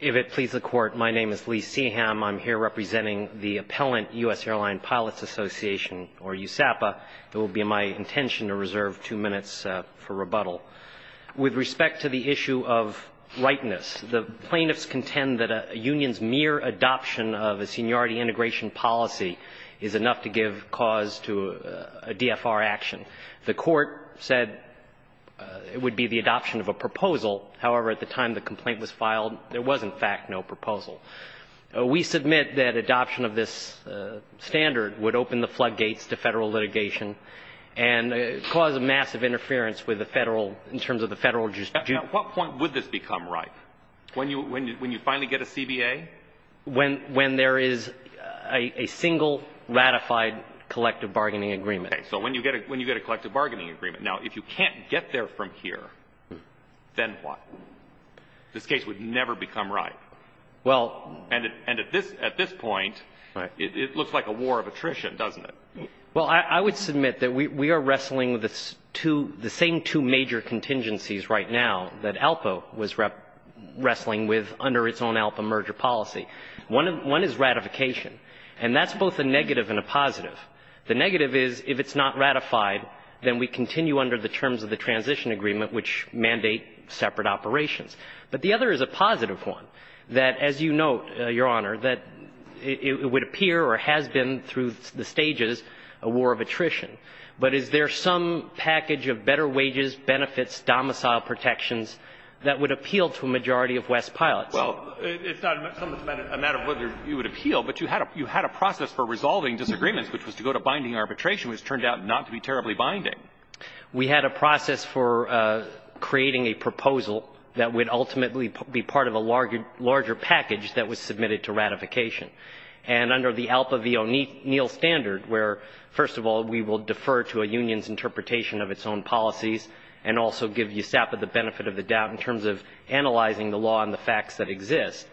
If it pleases the court, my name is Lee Seaham. I'm here representing the appellant US Airline Pilots Association, or USAPA. It will be my intention to reserve two minutes for rebuttal. With respect to the issue of rightness, the plaintiffs contend that a union's mere adoption of a seniority integration policy is enough to give cause to a DFR action. The court said it would be the adoption of a proposal. However, at the time the complaint was filed, there was, in fact, no proposal. We submit that adoption of this standard would open the floodgates to federal litigation and cause a massive interference with the federal, in terms of the federal jurisdiction. At what point would this become right? When you finally get a CBA? When there is a single ratified collective bargaining agreement. Okay, so when you get a collective bargaining agreement. Now, if you can't get there from here, then what? This case would never become right. Well, and at this point, it looks like a war of attrition, doesn't it? Well, I would submit that we are wrestling with the same two major contingencies right now that ALPA was wrestling with under its own ALPA merger policy. One is ratification, and that's both a negative and a positive. The negative is, if it's not ratified, then we continue under the terms of the transition agreement, which mandate separate operations. But the other is a positive one, that, as you note, Your Honor, that it would appear, or has been through the stages, a war of attrition. But is there some package of better wages, benefits, domicile protections that would appeal to a majority of West pilots? Well, it's not so much a matter of whether you would appeal, but you had a process for resolving disagreements, which was to go to binding arbitration, which turned out not to be terribly binding. We had a process for creating a proposal that would ultimately be part of a larger package that was submitted to ratification. And under the ALPA v. O'Neill standard, where, first of all, we will defer to a union's interpretation of its own policies, and also give USAPA the benefit of the doubt in terms of analyzing the law and the facts that exist,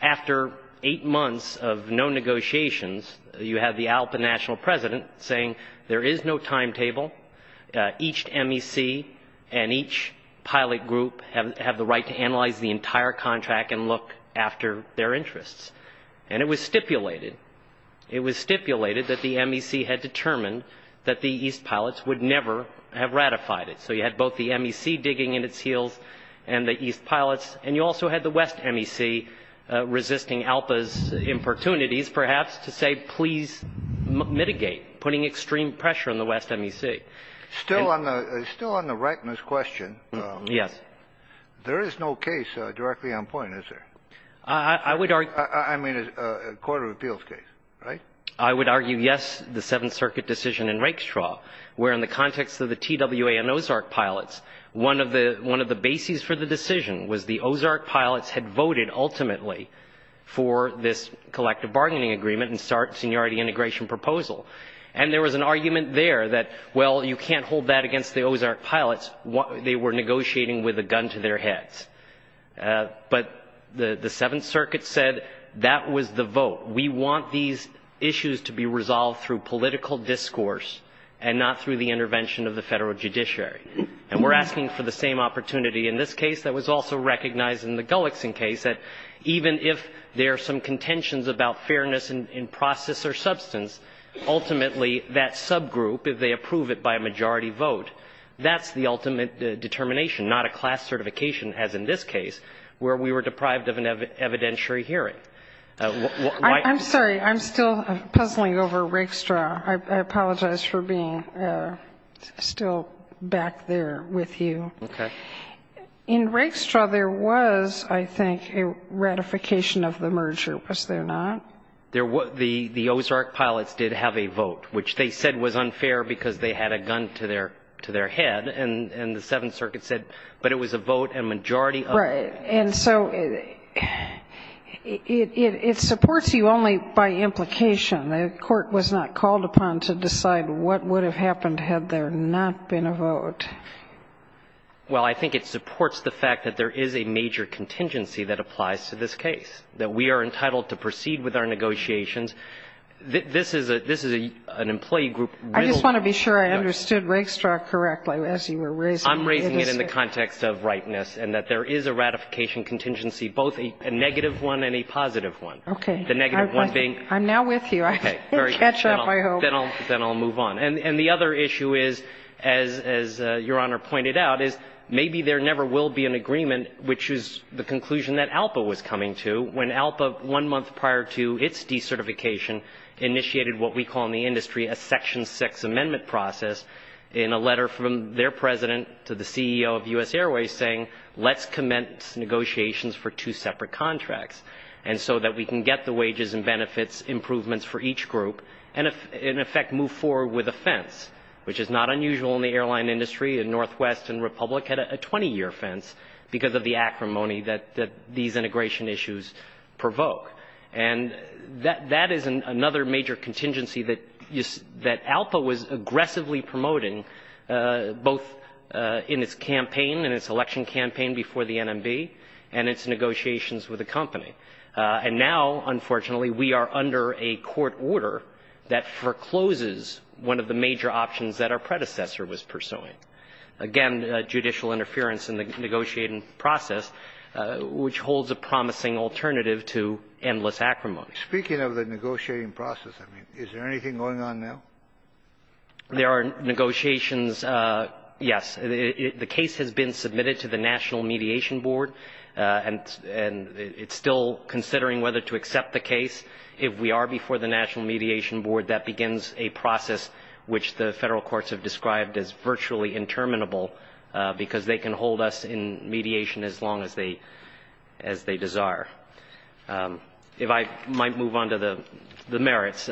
after eight months of no negotiations, you have the ALPA national president saying there is no timetable, each MEC and each pilot group have the right to analyze the entire contract and look after their interests. And it was stipulated, it was stipulated that the MEC had determined that the East pilots would never have ratified it. So you had both the MEC digging in its heels and the East pilots, and you also had the West MEC resisting ALPA's importunities, perhaps to say, please mitigate, putting extreme pressure on the West MEC. Still on the rightness question. Yes. There is no case directly on point, is there? I would argue. I mean, a court of appeals case, right? I would argue, yes, the Seventh Circuit decision in Rakestraw, where in the context of the TWA and Ozark pilots, one of the bases for the decision was the Ozark pilots had voted ultimately for this collective bargaining agreement and start seniority integration proposal. And there was an argument there that, well, you can't hold that against the Ozark pilots. They were negotiating with a gun to their heads. But the Seventh Circuit said that was the vote. We want these issues to be resolved through political discourse and not through the intervention of the federal judiciary. And we're asking for the same opportunity in this case that was also recognized in the Gullixson case that even if there are some contentions about fairness in process or substance, ultimately that subgroup, if they approve it by a majority vote, that's the ultimate determination, not a class certification, as in this case, where we were deprived of an evidentiary hearing. I'm sorry, I'm still puzzling over Rakestraw. I apologize for being still back there with you. Okay. In Rakestraw, there was, I think, a ratification of the merger, was there not? The Ozark pilots did have a vote, which they said was unfair because they had a gun to their head. And the Seventh Circuit said, but it was a vote and majority of- Right, and so it supports you only by implication. The court was not called upon to decide what would have happened had there not been a vote. Well, I think it supports the fact that there is a major contingency that applies to this case, that we are entitled to proceed with our negotiations. This is an employee group- I just want to be sure I understood Rakestraw correctly as you were raising it. I'm raising it in the context of rightness and that there is a ratification contingency, both a negative one and a positive one. Okay. The negative one being- I'm now with you. I can catch up, I hope. Then I'll move on. And the other issue is, as Your Honor pointed out, maybe there never will be an agreement, which is the conclusion that ALPA was coming to, when ALPA, one month prior to its decertification, initiated what we call in the industry a section six amendment process in a letter from their president to the CEO of U.S. Airways saying, let's commence negotiations for two separate contracts and so that we can get the wages and benefits improvements for each group and in effect move forward with a fence, which is not unusual in the airline industry and Northwest and Republic had a 20-year fence because of the acrimony that these integration issues provoke. And that is another major contingency that ALPA was aggressively promoting, both in its election campaign before the NMB and its negotiations with the company. And now, unfortunately, we are under a court order that forecloses one of the major options that our predecessor was pursuing. Again, judicial interference in the negotiating process, which holds a promising alternative to endless acrimony. Speaking of the negotiating process, I mean, is there anything going on now? There are negotiations, yes. The case has been submitted to the National Mediation Board and it's still considering whether to accept the case. If we are before the National Mediation Board, that begins a process which the federal courts have described as virtually interminable because they can hold us in mediation as long as they desire. If I might move on to the merits,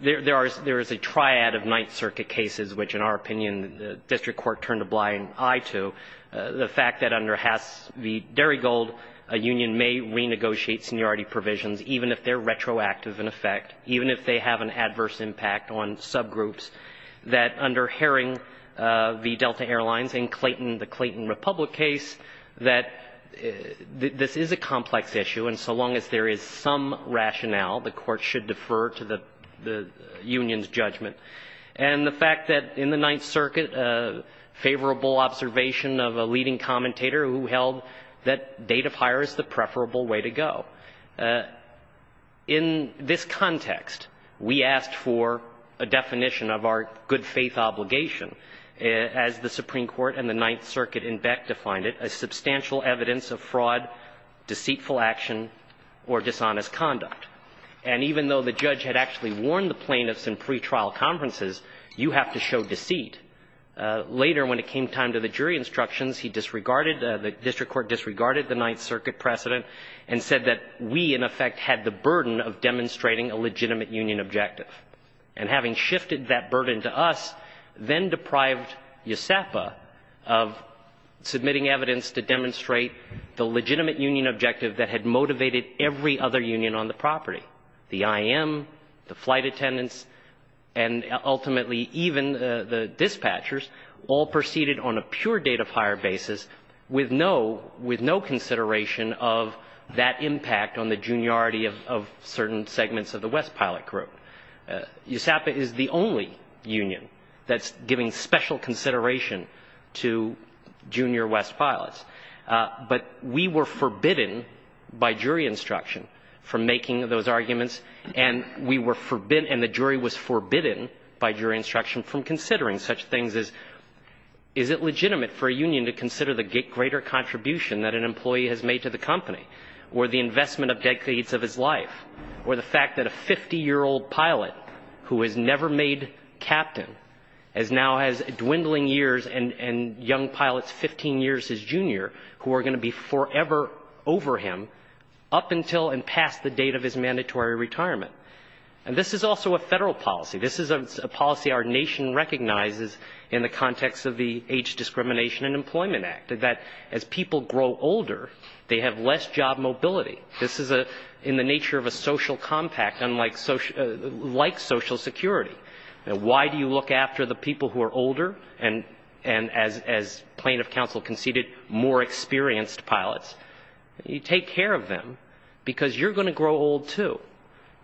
there is a triad of Ninth Circuit cases, which in our opinion, the district court turned a blind eye to. The fact that under Hasse v. Derrygold, a union may renegotiate seniority provisions even if they're retroactive in effect, even if they have an adverse impact on subgroups, that under Herring v. Delta Airlines in the Clayton Republic case, that this is a complex issue and so long as there is some rationale, the court should defer to the union's judgment. And the fact that in the Ninth Circuit, favorable observation of a leading commentator who held that date of hire is the preferable way to go. In this context, we asked for a definition of our good faith obligation as the Supreme Court and the Ninth Circuit in Beck defined it as substantial evidence of fraud, deceitful action, or dishonest conduct. And even though the judge had actually warned the plaintiffs in pretrial conferences, you have to show deceit. Later, when it came time to the jury instructions, he disregarded, the district court disregarded the Ninth Circuit precedent and said that we in effect had the burden of demonstrating a legitimate union objective. And having shifted that burden to us, then deprived USEPA of submitting evidence to demonstrate the legitimate union objective that had motivated every other union on the property. The IM, the flight attendants, and ultimately even the dispatchers all proceeded on a pure date of hire basis with no consideration of that impact on the juniority of certain segments of the West pilot group. USEPA is the only union that's giving special consideration to junior West pilots. But we were forbidden by jury instruction from making those arguments and we were forbidden, and the jury was forbidden by jury instruction from considering such things as is it legitimate for a union to consider the greater contribution that an employee has made to the company, or the investment of decades of his life, or the fact that a 50 year old pilot who has never made captain, as now has dwindling years and young pilots 15 years his junior who are gonna be forever over him up until and past the date of his mandatory retirement. And this is also a federal policy. This is a policy our nation recognizes in the context of the Age Discrimination and Employment Act that as people grow older, they have less job mobility. This is in the nature of a social compact unlike social security. Why do you look after the people who are older and as plaintiff counsel conceded, more experienced pilots? You take care of them because you're gonna grow old too.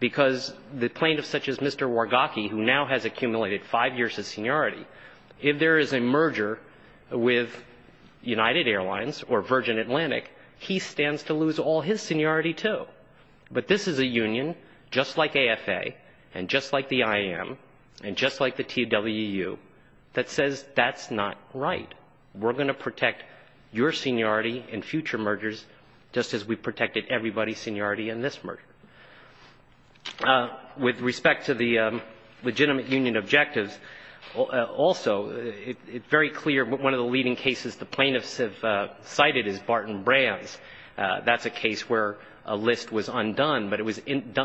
Because the plaintiff such as Mr. Wargacki who now has accumulated five years of seniority, if there is a merger with United Airlines or Virgin Atlantic, he stands to lose all his seniority too. But this is a union just like AFA, and just like the IM, and just like the TWU that says that's not right. We're gonna protect your seniority in future mergers just as we protected everybody's seniority in this merger. With respect to the legitimate union objectives, also, it's very clear one of the leading cases the plaintiffs have cited is Barton Brands. That's a case where a list was undone, but it was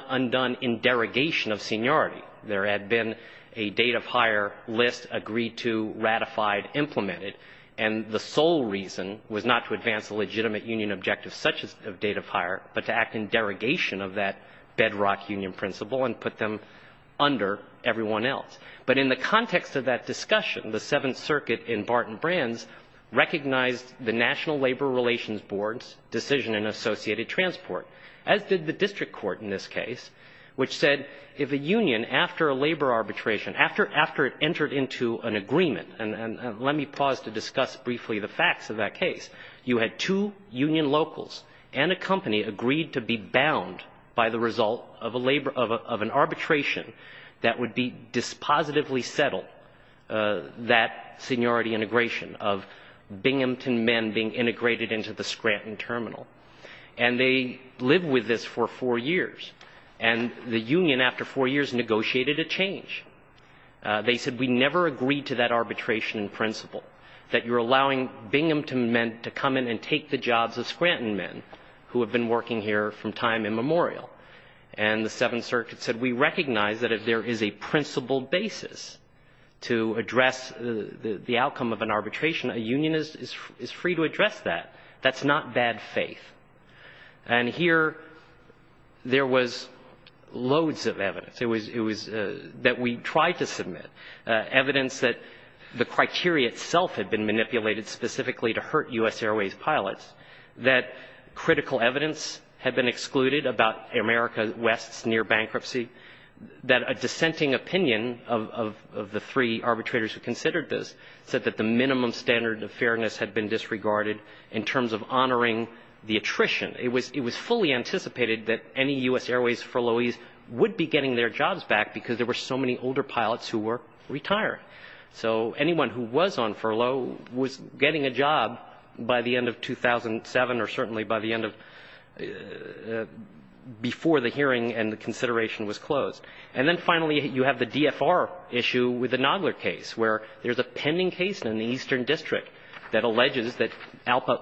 undone in derogation of seniority. There had been a date of hire list agreed to, ratified, implemented, and the sole reason was not to advance a legitimate union objective such as a date of hire, but to act in derogation of that bedrock union principle and put them under everyone else. But in the context of that discussion, the Seventh Circuit in Barton Brands recognized the National Labor Relations Board's decision in associated transport, as did the district court in this case, which said if a union, after a labor arbitration, after it entered into an agreement, and let me pause to discuss briefly the facts of that case, you had two union locals and a company agreed to be bound by the result of an arbitration that would be dispositively settled, that seniority integration of Binghamton men being integrated into the Scranton terminal. And they lived with this for four years. And the union, after four years, negotiated a change. They said we never agreed to that arbitration principle, that you're allowing Binghamton men to come in and take the jobs of Scranton men who have been working here from time immemorial. And the Seventh Circuit said we recognize that if there is a principle basis to address the outcome of an arbitration, a union is free to address that. That's not bad faith. And here, there was loads of evidence. It was that we tried to submit, evidence that the criteria itself had been manipulated specifically to hurt U.S. Airways pilots, that critical evidence had been excluded about America West's near bankruptcy, that a dissenting opinion of the three arbitrators who considered this said that the minimum standard of fairness had been disregarded in terms of honoring the attrition. It was fully anticipated that any U.S. Airways furloughees would be getting their jobs back because there were so many older pilots who were retired. So anyone who was on furlough was getting a job by the end of 2007 or certainly by the end of, before the hearing and the consideration was closed. And then finally, you have the DFR issue with the Nodler case where there's a pending case in the Eastern District that alleges that ALPA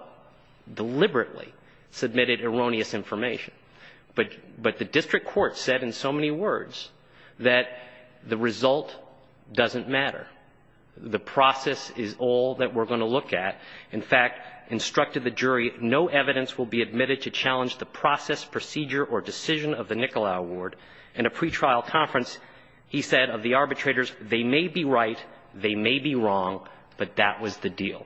deliberately submitted erroneous information. But the district court said in so many words that the result doesn't matter. The process is all that we're gonna look at. In fact, instructed the jury, no evidence will be admitted to challenge the process, procedure, or decision of the Nikola Award. In a pretrial conference, he said of the arbitrators, they may be right, they may be wrong, but that was the deal.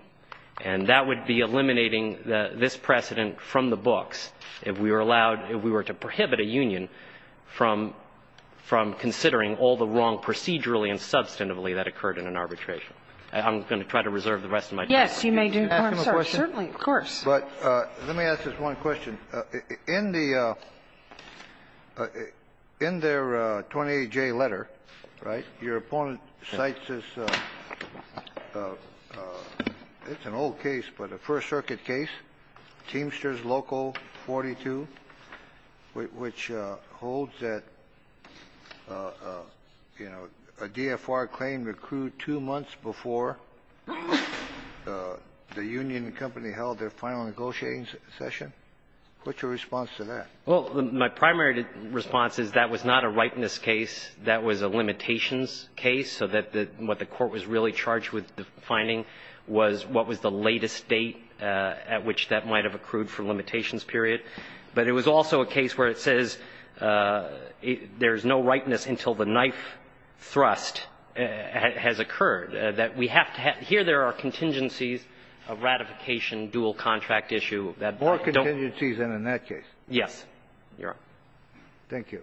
And that would be eliminating this precedent from the books if we were allowed, if we were to prohibit a union from considering all the wrong procedurally and substantively that occurred in an arbitration. I'm gonna try to reserve the rest of my time. Yes, you may do, I'm sorry. Can I ask him a question? Certainly, of course. But let me ask just one question. In the, in their 28J letter, right, your opponent cites this, it's an old case, but a First Circuit case, Teamsters Local 42, which holds that, you know, a DFR claim accrued two months before the union company held their final negotiating session. What's your response to that? Well, my primary response is that was not a rightness case. That was a limitations case, so that the, what the court was really charged with defining was what was the latest date at which that might have accrued for limitations period. But it was also a case where it says there's no rightness until the knife thrust has occurred, that we have to have, here there are contingencies of ratification, dual contract issue that don't. More contingencies than in that case. Yes, Your Honor. Thank you.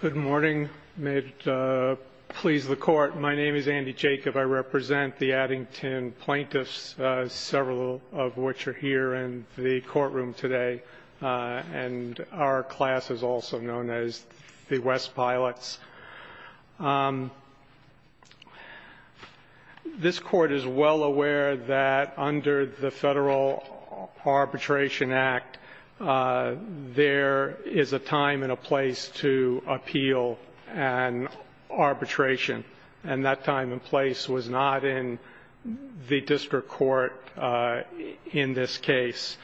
Good morning. May it please the Court. My name is Andy Jacob. I represent the Addington plaintiffs, several of which are here in the courtroom today, and our class is also known as the West Pilots. This Court is well aware that under the Federal Arbitration Act, there is a time and a place to appeal an arbitration, and that time and place was not in the district court in this case.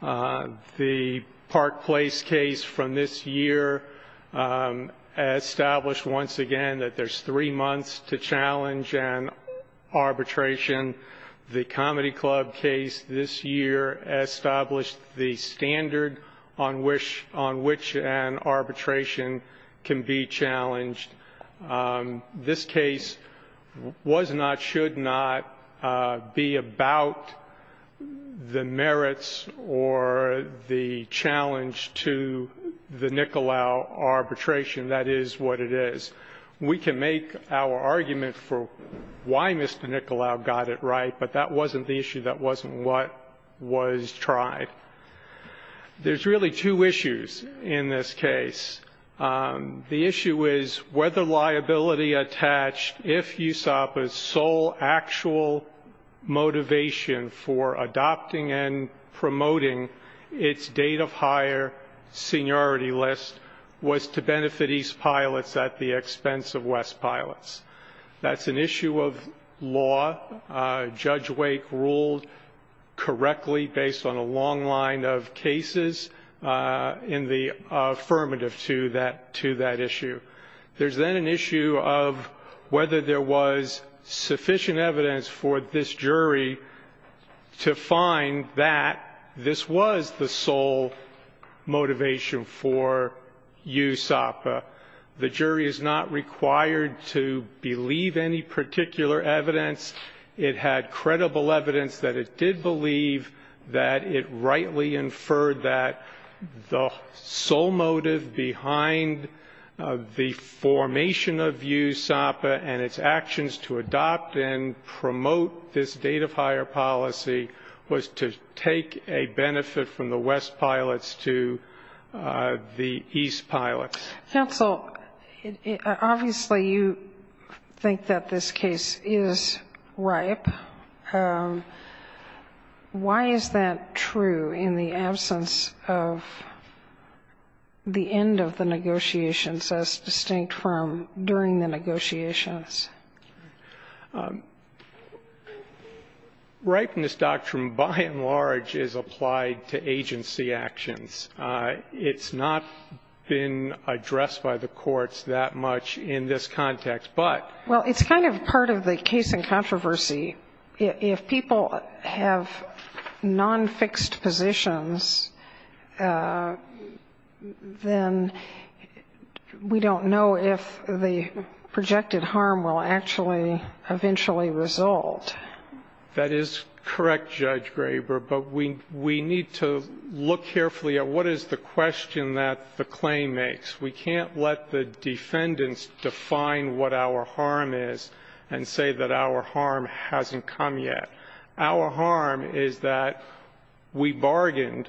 The Park Place case from this year established once again that there's three months to challenge an arbitration. The Comedy Club case this year established the standard on which an arbitration can be challenged. This case was not, should not be about the merits or the challenge to the Nicolau arbitration. That is what it is. We can make our argument for why Mr. Nicolau got it right, but that wasn't the issue, that wasn't what was tried. There's really two issues in this case. The issue is whether liability attached, if USAPA's sole actual motivation for adopting and promoting its date of hire seniority list was to benefit East Pilots at the expense of West Pilots. That's an issue of law. Judge Wake ruled correctly based on a long line of cases in the affirmative to that issue. There's then an issue of whether there was sufficient evidence for this jury to find that this was the sole motivation for USAPA. The jury is not required to believe any particular evidence. It had credible evidence that it did believe that it rightly inferred that the sole motive behind the formation of USAPA and its actions to adopt and promote this date of hire policy was to take a benefit from the West Pilots to the East Pilots. Counsel, obviously you think that this case is ripe. Why is that true in the absence of the end of the negotiations as distinct from during the negotiations? Ripeness doctrine by and large is applied to agency actions. It's not been addressed by the courts that much in this context, but- Well, it's kind of part of the case in controversy. If people have non-fixed positions, then we don't know if the projected harm will actually eventually result. That is correct, Judge Graber, but we need to look carefully at what is the question that the claim makes, we can't let the defendants define what our harm is and say that our harm hasn't come yet. Our harm is that we bargained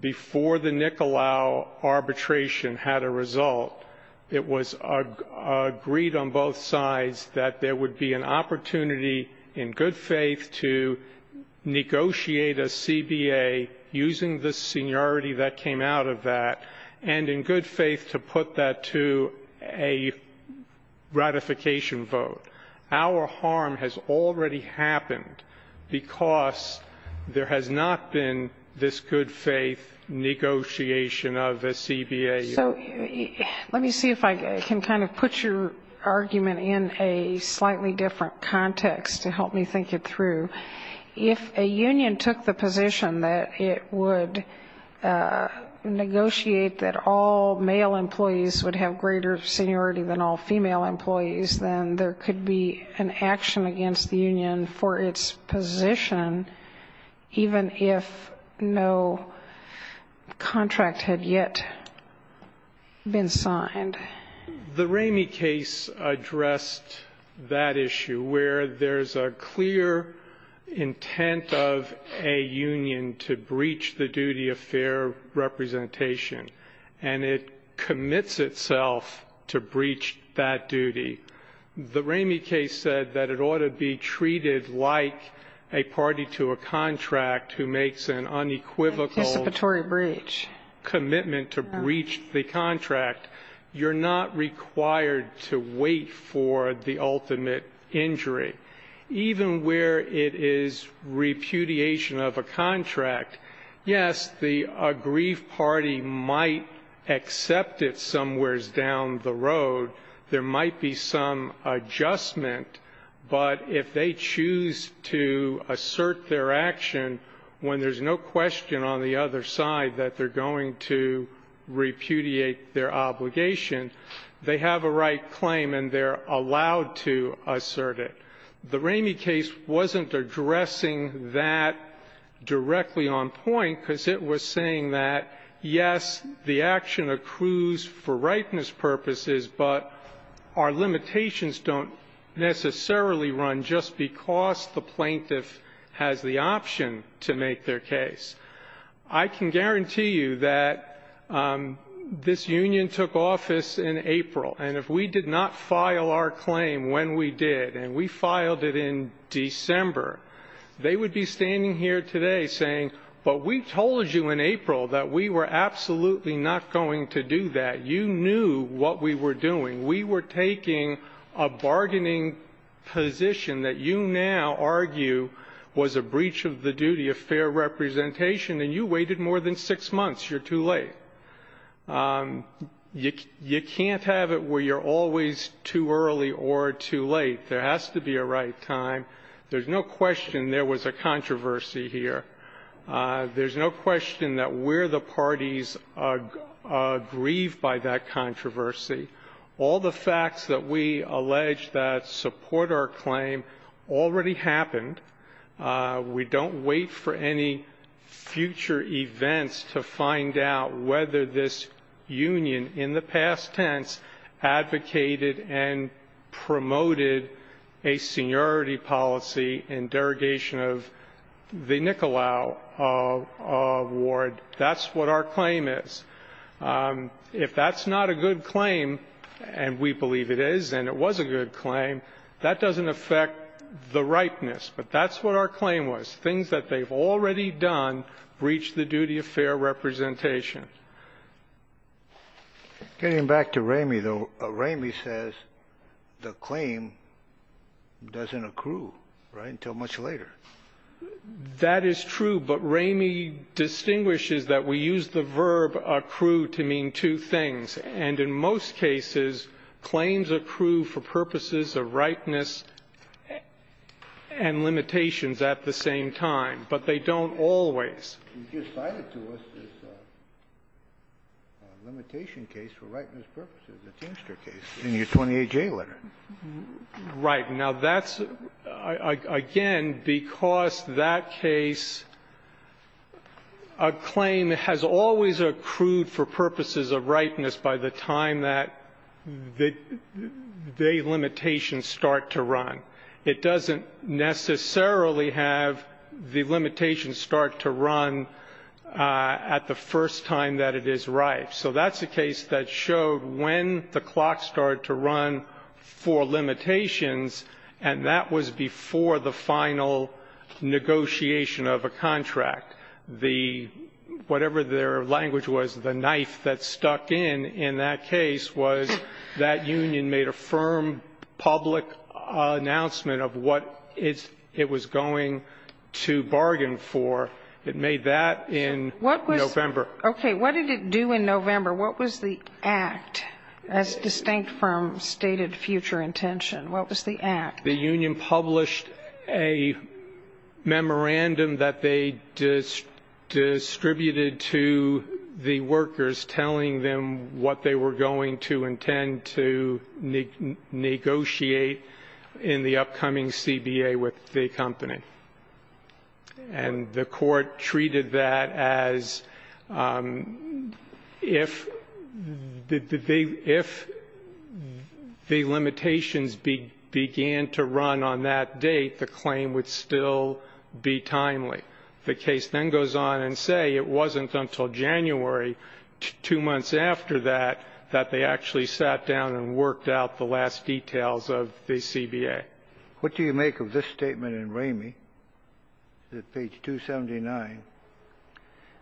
before the Nicolau arbitration had a result. It was agreed on both sides that there would be an opportunity, in good faith, to negotiate a CBA using the seniority that came out of that. And in good faith to put that to a ratification vote. Our harm has already happened because there has not been this good faith negotiation of a CBA. So let me see if I can kind of put your argument in a slightly different context to help me think it through. If a union took the position that it would negotiate that all there would be an action against the union for its position, even if no contract had yet been signed. The Ramey case addressed that issue, where there's a clear intent of a union to breach the duty of fair representation. And it commits itself to breach that duty. The Ramey case said that it ought to be treated like a party to a contract who makes an unequivocal- An anticipatory breach. Commitment to breach the contract. You're not required to wait for the ultimate injury. Even where it is repudiation of a contract, yes, the aggrieved party might accept it somewhere down the road. There might be some adjustment. But if they choose to assert their action, when there's no question on the other side that they're going to repudiate their obligation, they have a right claim and they're allowed to assert it. The Ramey case wasn't addressing that directly on point because it was saying that, yes, the action accrues for rightness purposes, but our limitations don't necessarily run just because the plaintiff has the option to make their case. I can guarantee you that this union took office in April. And if we did not file our claim when we did, and we filed it in December, they would be standing here today saying, but we told you in April that we were absolutely not going to do that. You knew what we were doing. We were taking a bargaining position that you now argue was a breach of the duty of fair representation. And you waited more than six months. You're too late. You can't have it where you're always too early or too late. There has to be a right time. There's no question there was a controversy here. There's no question that we're the parties aggrieved by that controversy. All the facts that we allege that support our claim already happened. We don't wait for any future events to find out whether this union in the past tense advocated and made a policy in derogation of the Nicolau Award. That's what our claim is. If that's not a good claim, and we believe it is, and it was a good claim, that doesn't affect the ripeness. But that's what our claim was. Things that they've already done breach the duty of fair representation. Getting back to Ramey, though, Ramey says the claim doesn't accrue, right, until much later. That is true, but Ramey distinguishes that we use the verb accrue to mean two things. And in most cases, claims accrue for purposes of rightness and limitations at the same time. But they don't always. Kennedy, you cited to us this limitation case for rightness purposes, the Teamster case in your 28-J letter. Right. Now, that's, again, because that case, a claim has always accrued for purposes of rightness by the time that the limitations start to run. It doesn't necessarily have the limitations start to run at the first time that it is right. So that's a case that showed when the clock started to run for limitations, and that was before the final negotiation of a contract. The, whatever their language was, the knife that stuck in in that case was that union made a firm public announcement of what it was going to bargain for. It made that in November. Okay, what did it do in November? What was the act? That's distinct from stated future intention. What was the act? The union published a memorandum that they distributed to the workers telling them what they were going to intend to negotiate in the upcoming CBA with the company, and the court treated that as if the limitations began to run on that date, the claim would still be timely. The case then goes on and say it wasn't until January, two months after that, that they actually sat down and worked out the last details of the CBA. What do you make of this statement in Ramey, page 279?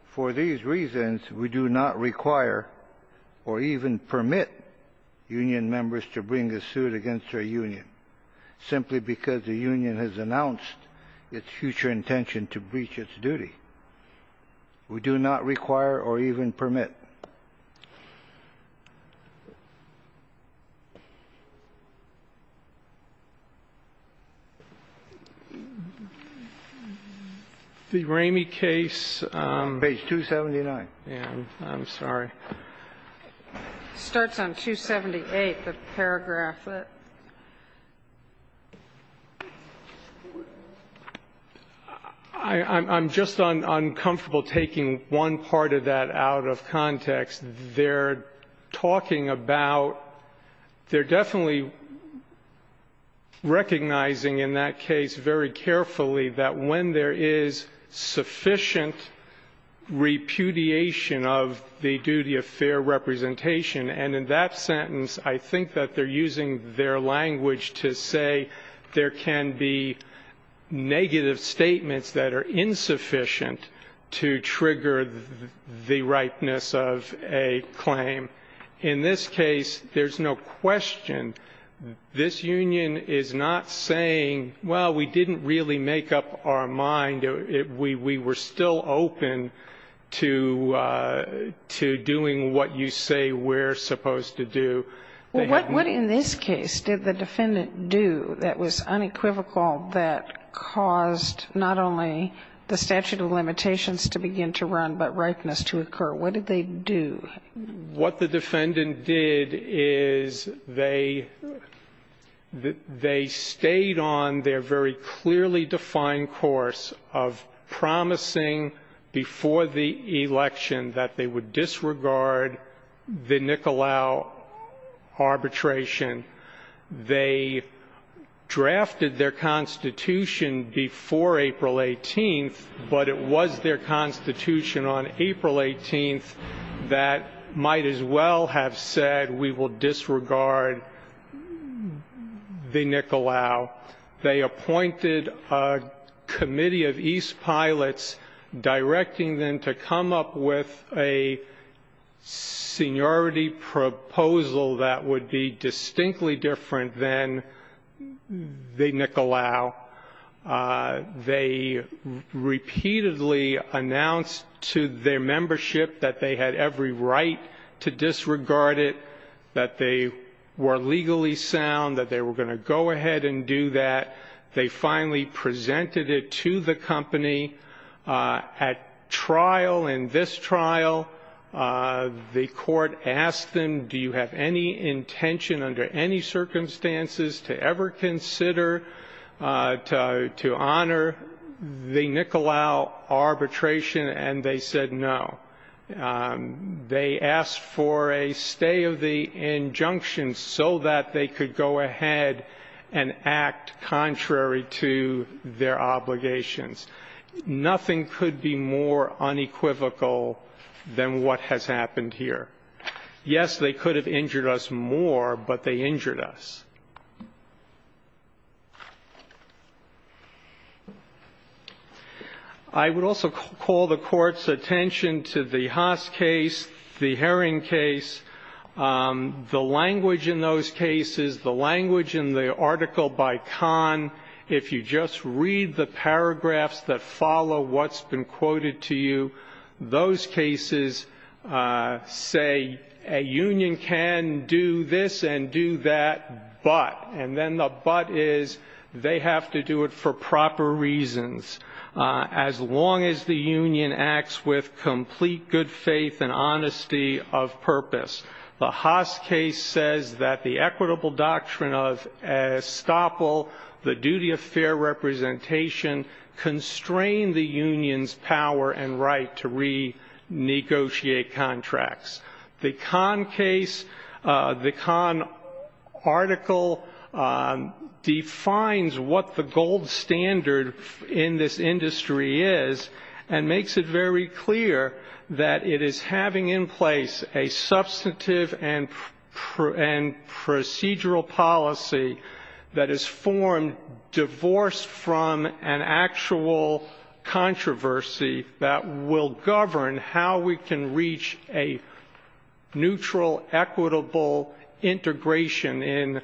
For these reasons, we do not require or even permit union members to bring a suit against their union. Simply because the union has announced its future intention to breach its duty. We do not require or even permit. The Ramey case. Page 279. Yeah, I'm sorry. Starts on 278, the paragraph. I'm just uncomfortable taking one part of that out of context. They're talking about, they're definitely recognizing in that case very carefully that when there is sufficient repudiation of the duty of fair representation. And in that sentence, I think that they're using their language to say there can be negative statements that are insufficient to trigger the ripeness of a claim. In this case, there's no question. This union is not saying, well, we didn't really make up our mind. We were still open to doing what you say we're supposed to do. Well, what in this case did the defendant do that was unequivocal that caused not only the statute of limitations to begin to run, but ripeness to occur? What did they do? What the defendant did is they stayed on their very clearly defined course of promising before the election that they would disregard the Nicolau arbitration. They drafted their constitution before April 18, but it was their constitution on April 18 that might as well have said, we will disregard the Nicolau. They appointed a committee of East pilots directing them to come up with a seniority proposal that would be distinctly different than the Nicolau. They repeatedly announced to their membership that they had every right to disregard it, that they were legally sound, that they were going to go ahead and do that, they finally presented it to the company. At trial, in this trial, the court asked them, do you have any intention under any circumstances to ever consider to honor the Nicolau arbitration, and they said no. They asked for a stay of the injunction so that they could go ahead and act contrary to their obligations. Nothing could be more unequivocal than what has happened here. Yes, they could have injured us more, but they injured us. I would also call the court's attention to the Haas case, the Herring case. The language in those cases, the language in the article by Kahn, if you just read the paragraphs that follow what's been quoted to you, those cases say a union can do this and do that, but, and then the but is they have to do it for proper reasons. As long as the union acts with complete good faith and honesty of purpose. The Haas case says that the equitable doctrine of estoppel, the duty of fair representation, constrain the union's power and right to renegotiate contracts. The Kahn case, the Kahn article defines what the gold standard in this industry is and makes it very clear that it is having in place a substantive and procedural policy that is formed, divorced from an actual controversy that will govern how we can reach a neutral, equitable integration in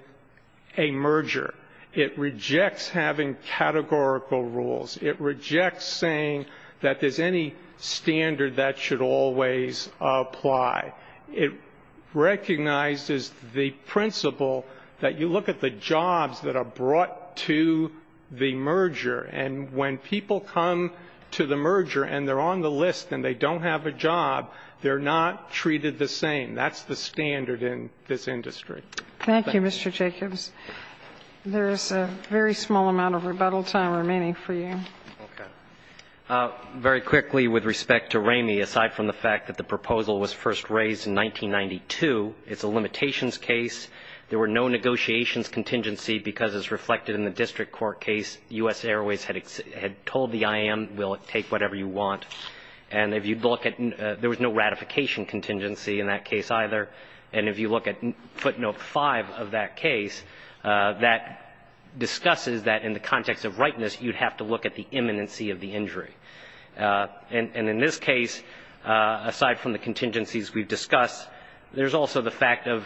a merger. It rejects having categorical rules. It rejects saying that there's any standard that should always apply. It recognizes the principle that you look at the jobs that are brought to the merger. And when people come to the merger and they're on the list and they don't have a job, they're not treated the same. That's the standard in this industry. Thank you, Mr. Jacobs. There's a very small amount of rebuttal time remaining for you. Okay. Very quickly with respect to Ramey, aside from the fact that the proposal was first raised in 1992, it's a limitations case. There were no negotiations contingency because as reflected in the district court case, US Airways had told the IM, we'll take whatever you want. And if you'd look at, there was no ratification contingency in that case either. And if you look at footnote five of that case, that discusses that in the context of rightness, you'd have to look at the imminency of the injury. And in this case, aside from the contingencies we've discussed, there's also the fact of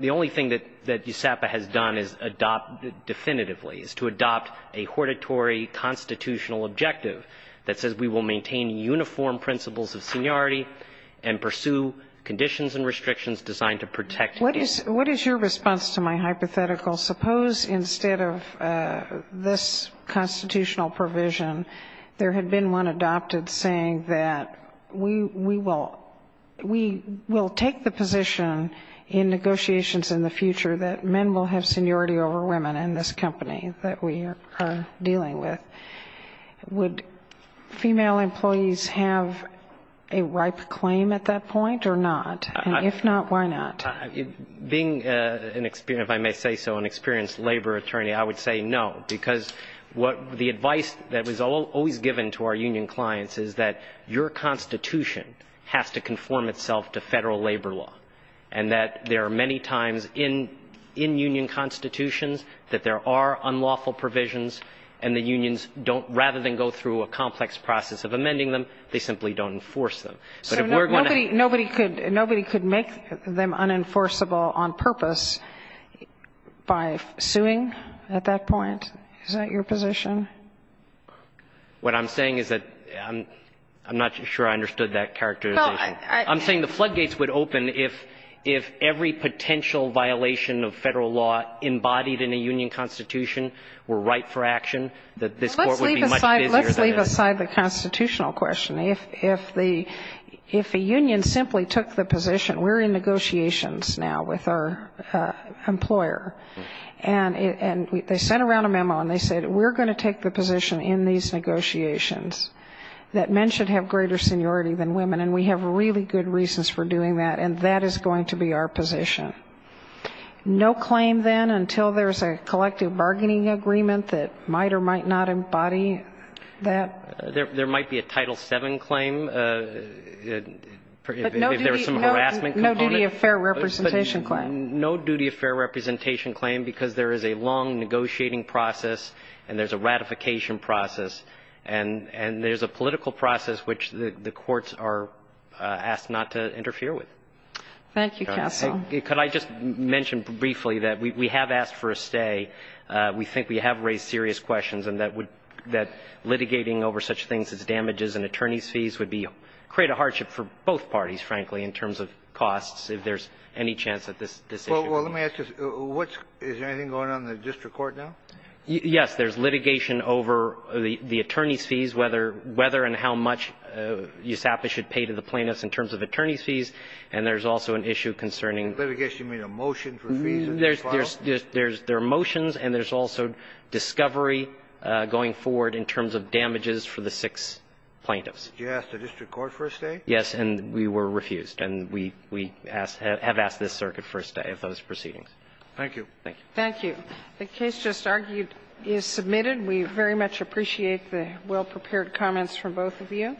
the only thing that USAPA has done is adopt definitively, is to adopt a hortatory constitutional objective that says we will maintain uniform principles of seniority and pursue conditions and restrictions designed to protect. What is your response to my hypothetical? Suppose instead of this constitutional provision, there had been one adopted saying that we will take the position in negotiations in the future that men will have seniority over women in this company that we are dealing with. Would female employees have a ripe claim at that point or not? And if not, why not? Being an experienced, if I may say so, an experienced labor attorney, I would say no. Because what the advice that was always given to our union clients is that your constitution has to conform itself to federal labor law. And that there are many times in union constitutions that there are unlawful provisions. And the unions don't, rather than go through a complex process of amending them, they simply don't enforce them. So nobody could make them unenforceable on purpose by suing at that point? Is that your position? What I'm saying is that, I'm not sure I understood that characterization. I'm saying the floodgates would open if every potential violation of federal law embodied in a union constitution were right for action, that this court would be much busier than it is. Let's leave aside the constitutional question. If a union simply took the position, we're in negotiations now with our employer. And they sent around a memo and they said, we're going to take the position in these negotiations that men should have greater seniority than women, and we have really good reasons for doing that. And that is going to be our position. No claim then until there's a collective bargaining agreement that might or might not embody that? There might be a Title VII claim, if there's some harassment component. No duty of fair representation claim. No duty of fair representation claim because there is a long negotiating process and there's a ratification process. And there's a political process which the courts are asked not to interfere with. Thank you, counsel. Could I just mention briefly that we have asked for a stay. We think we have raised serious questions and that litigating over such things as damages and attorney's fees would create a hardship for both parties, frankly, in terms of costs, if there's any chance that this decision would be made. Well, let me ask you, is there anything going on in the district court now? Yes. There's litigation over the attorney's fees, whether and how much USAPA should pay to the plaintiffs in terms of attorney's fees. And there's also an issue concerning the litigation. You mean a motion for fees? There are motions and there's also discovery going forward in terms of damages for the six plaintiffs. Did you ask the district court for a stay? Yes. And we were refused. And we have asked this circuit for a stay of those proceedings. Thank you. Thank you. Thank you. The case just argued is submitted. We very much appreciate the well-prepared comments from both of you.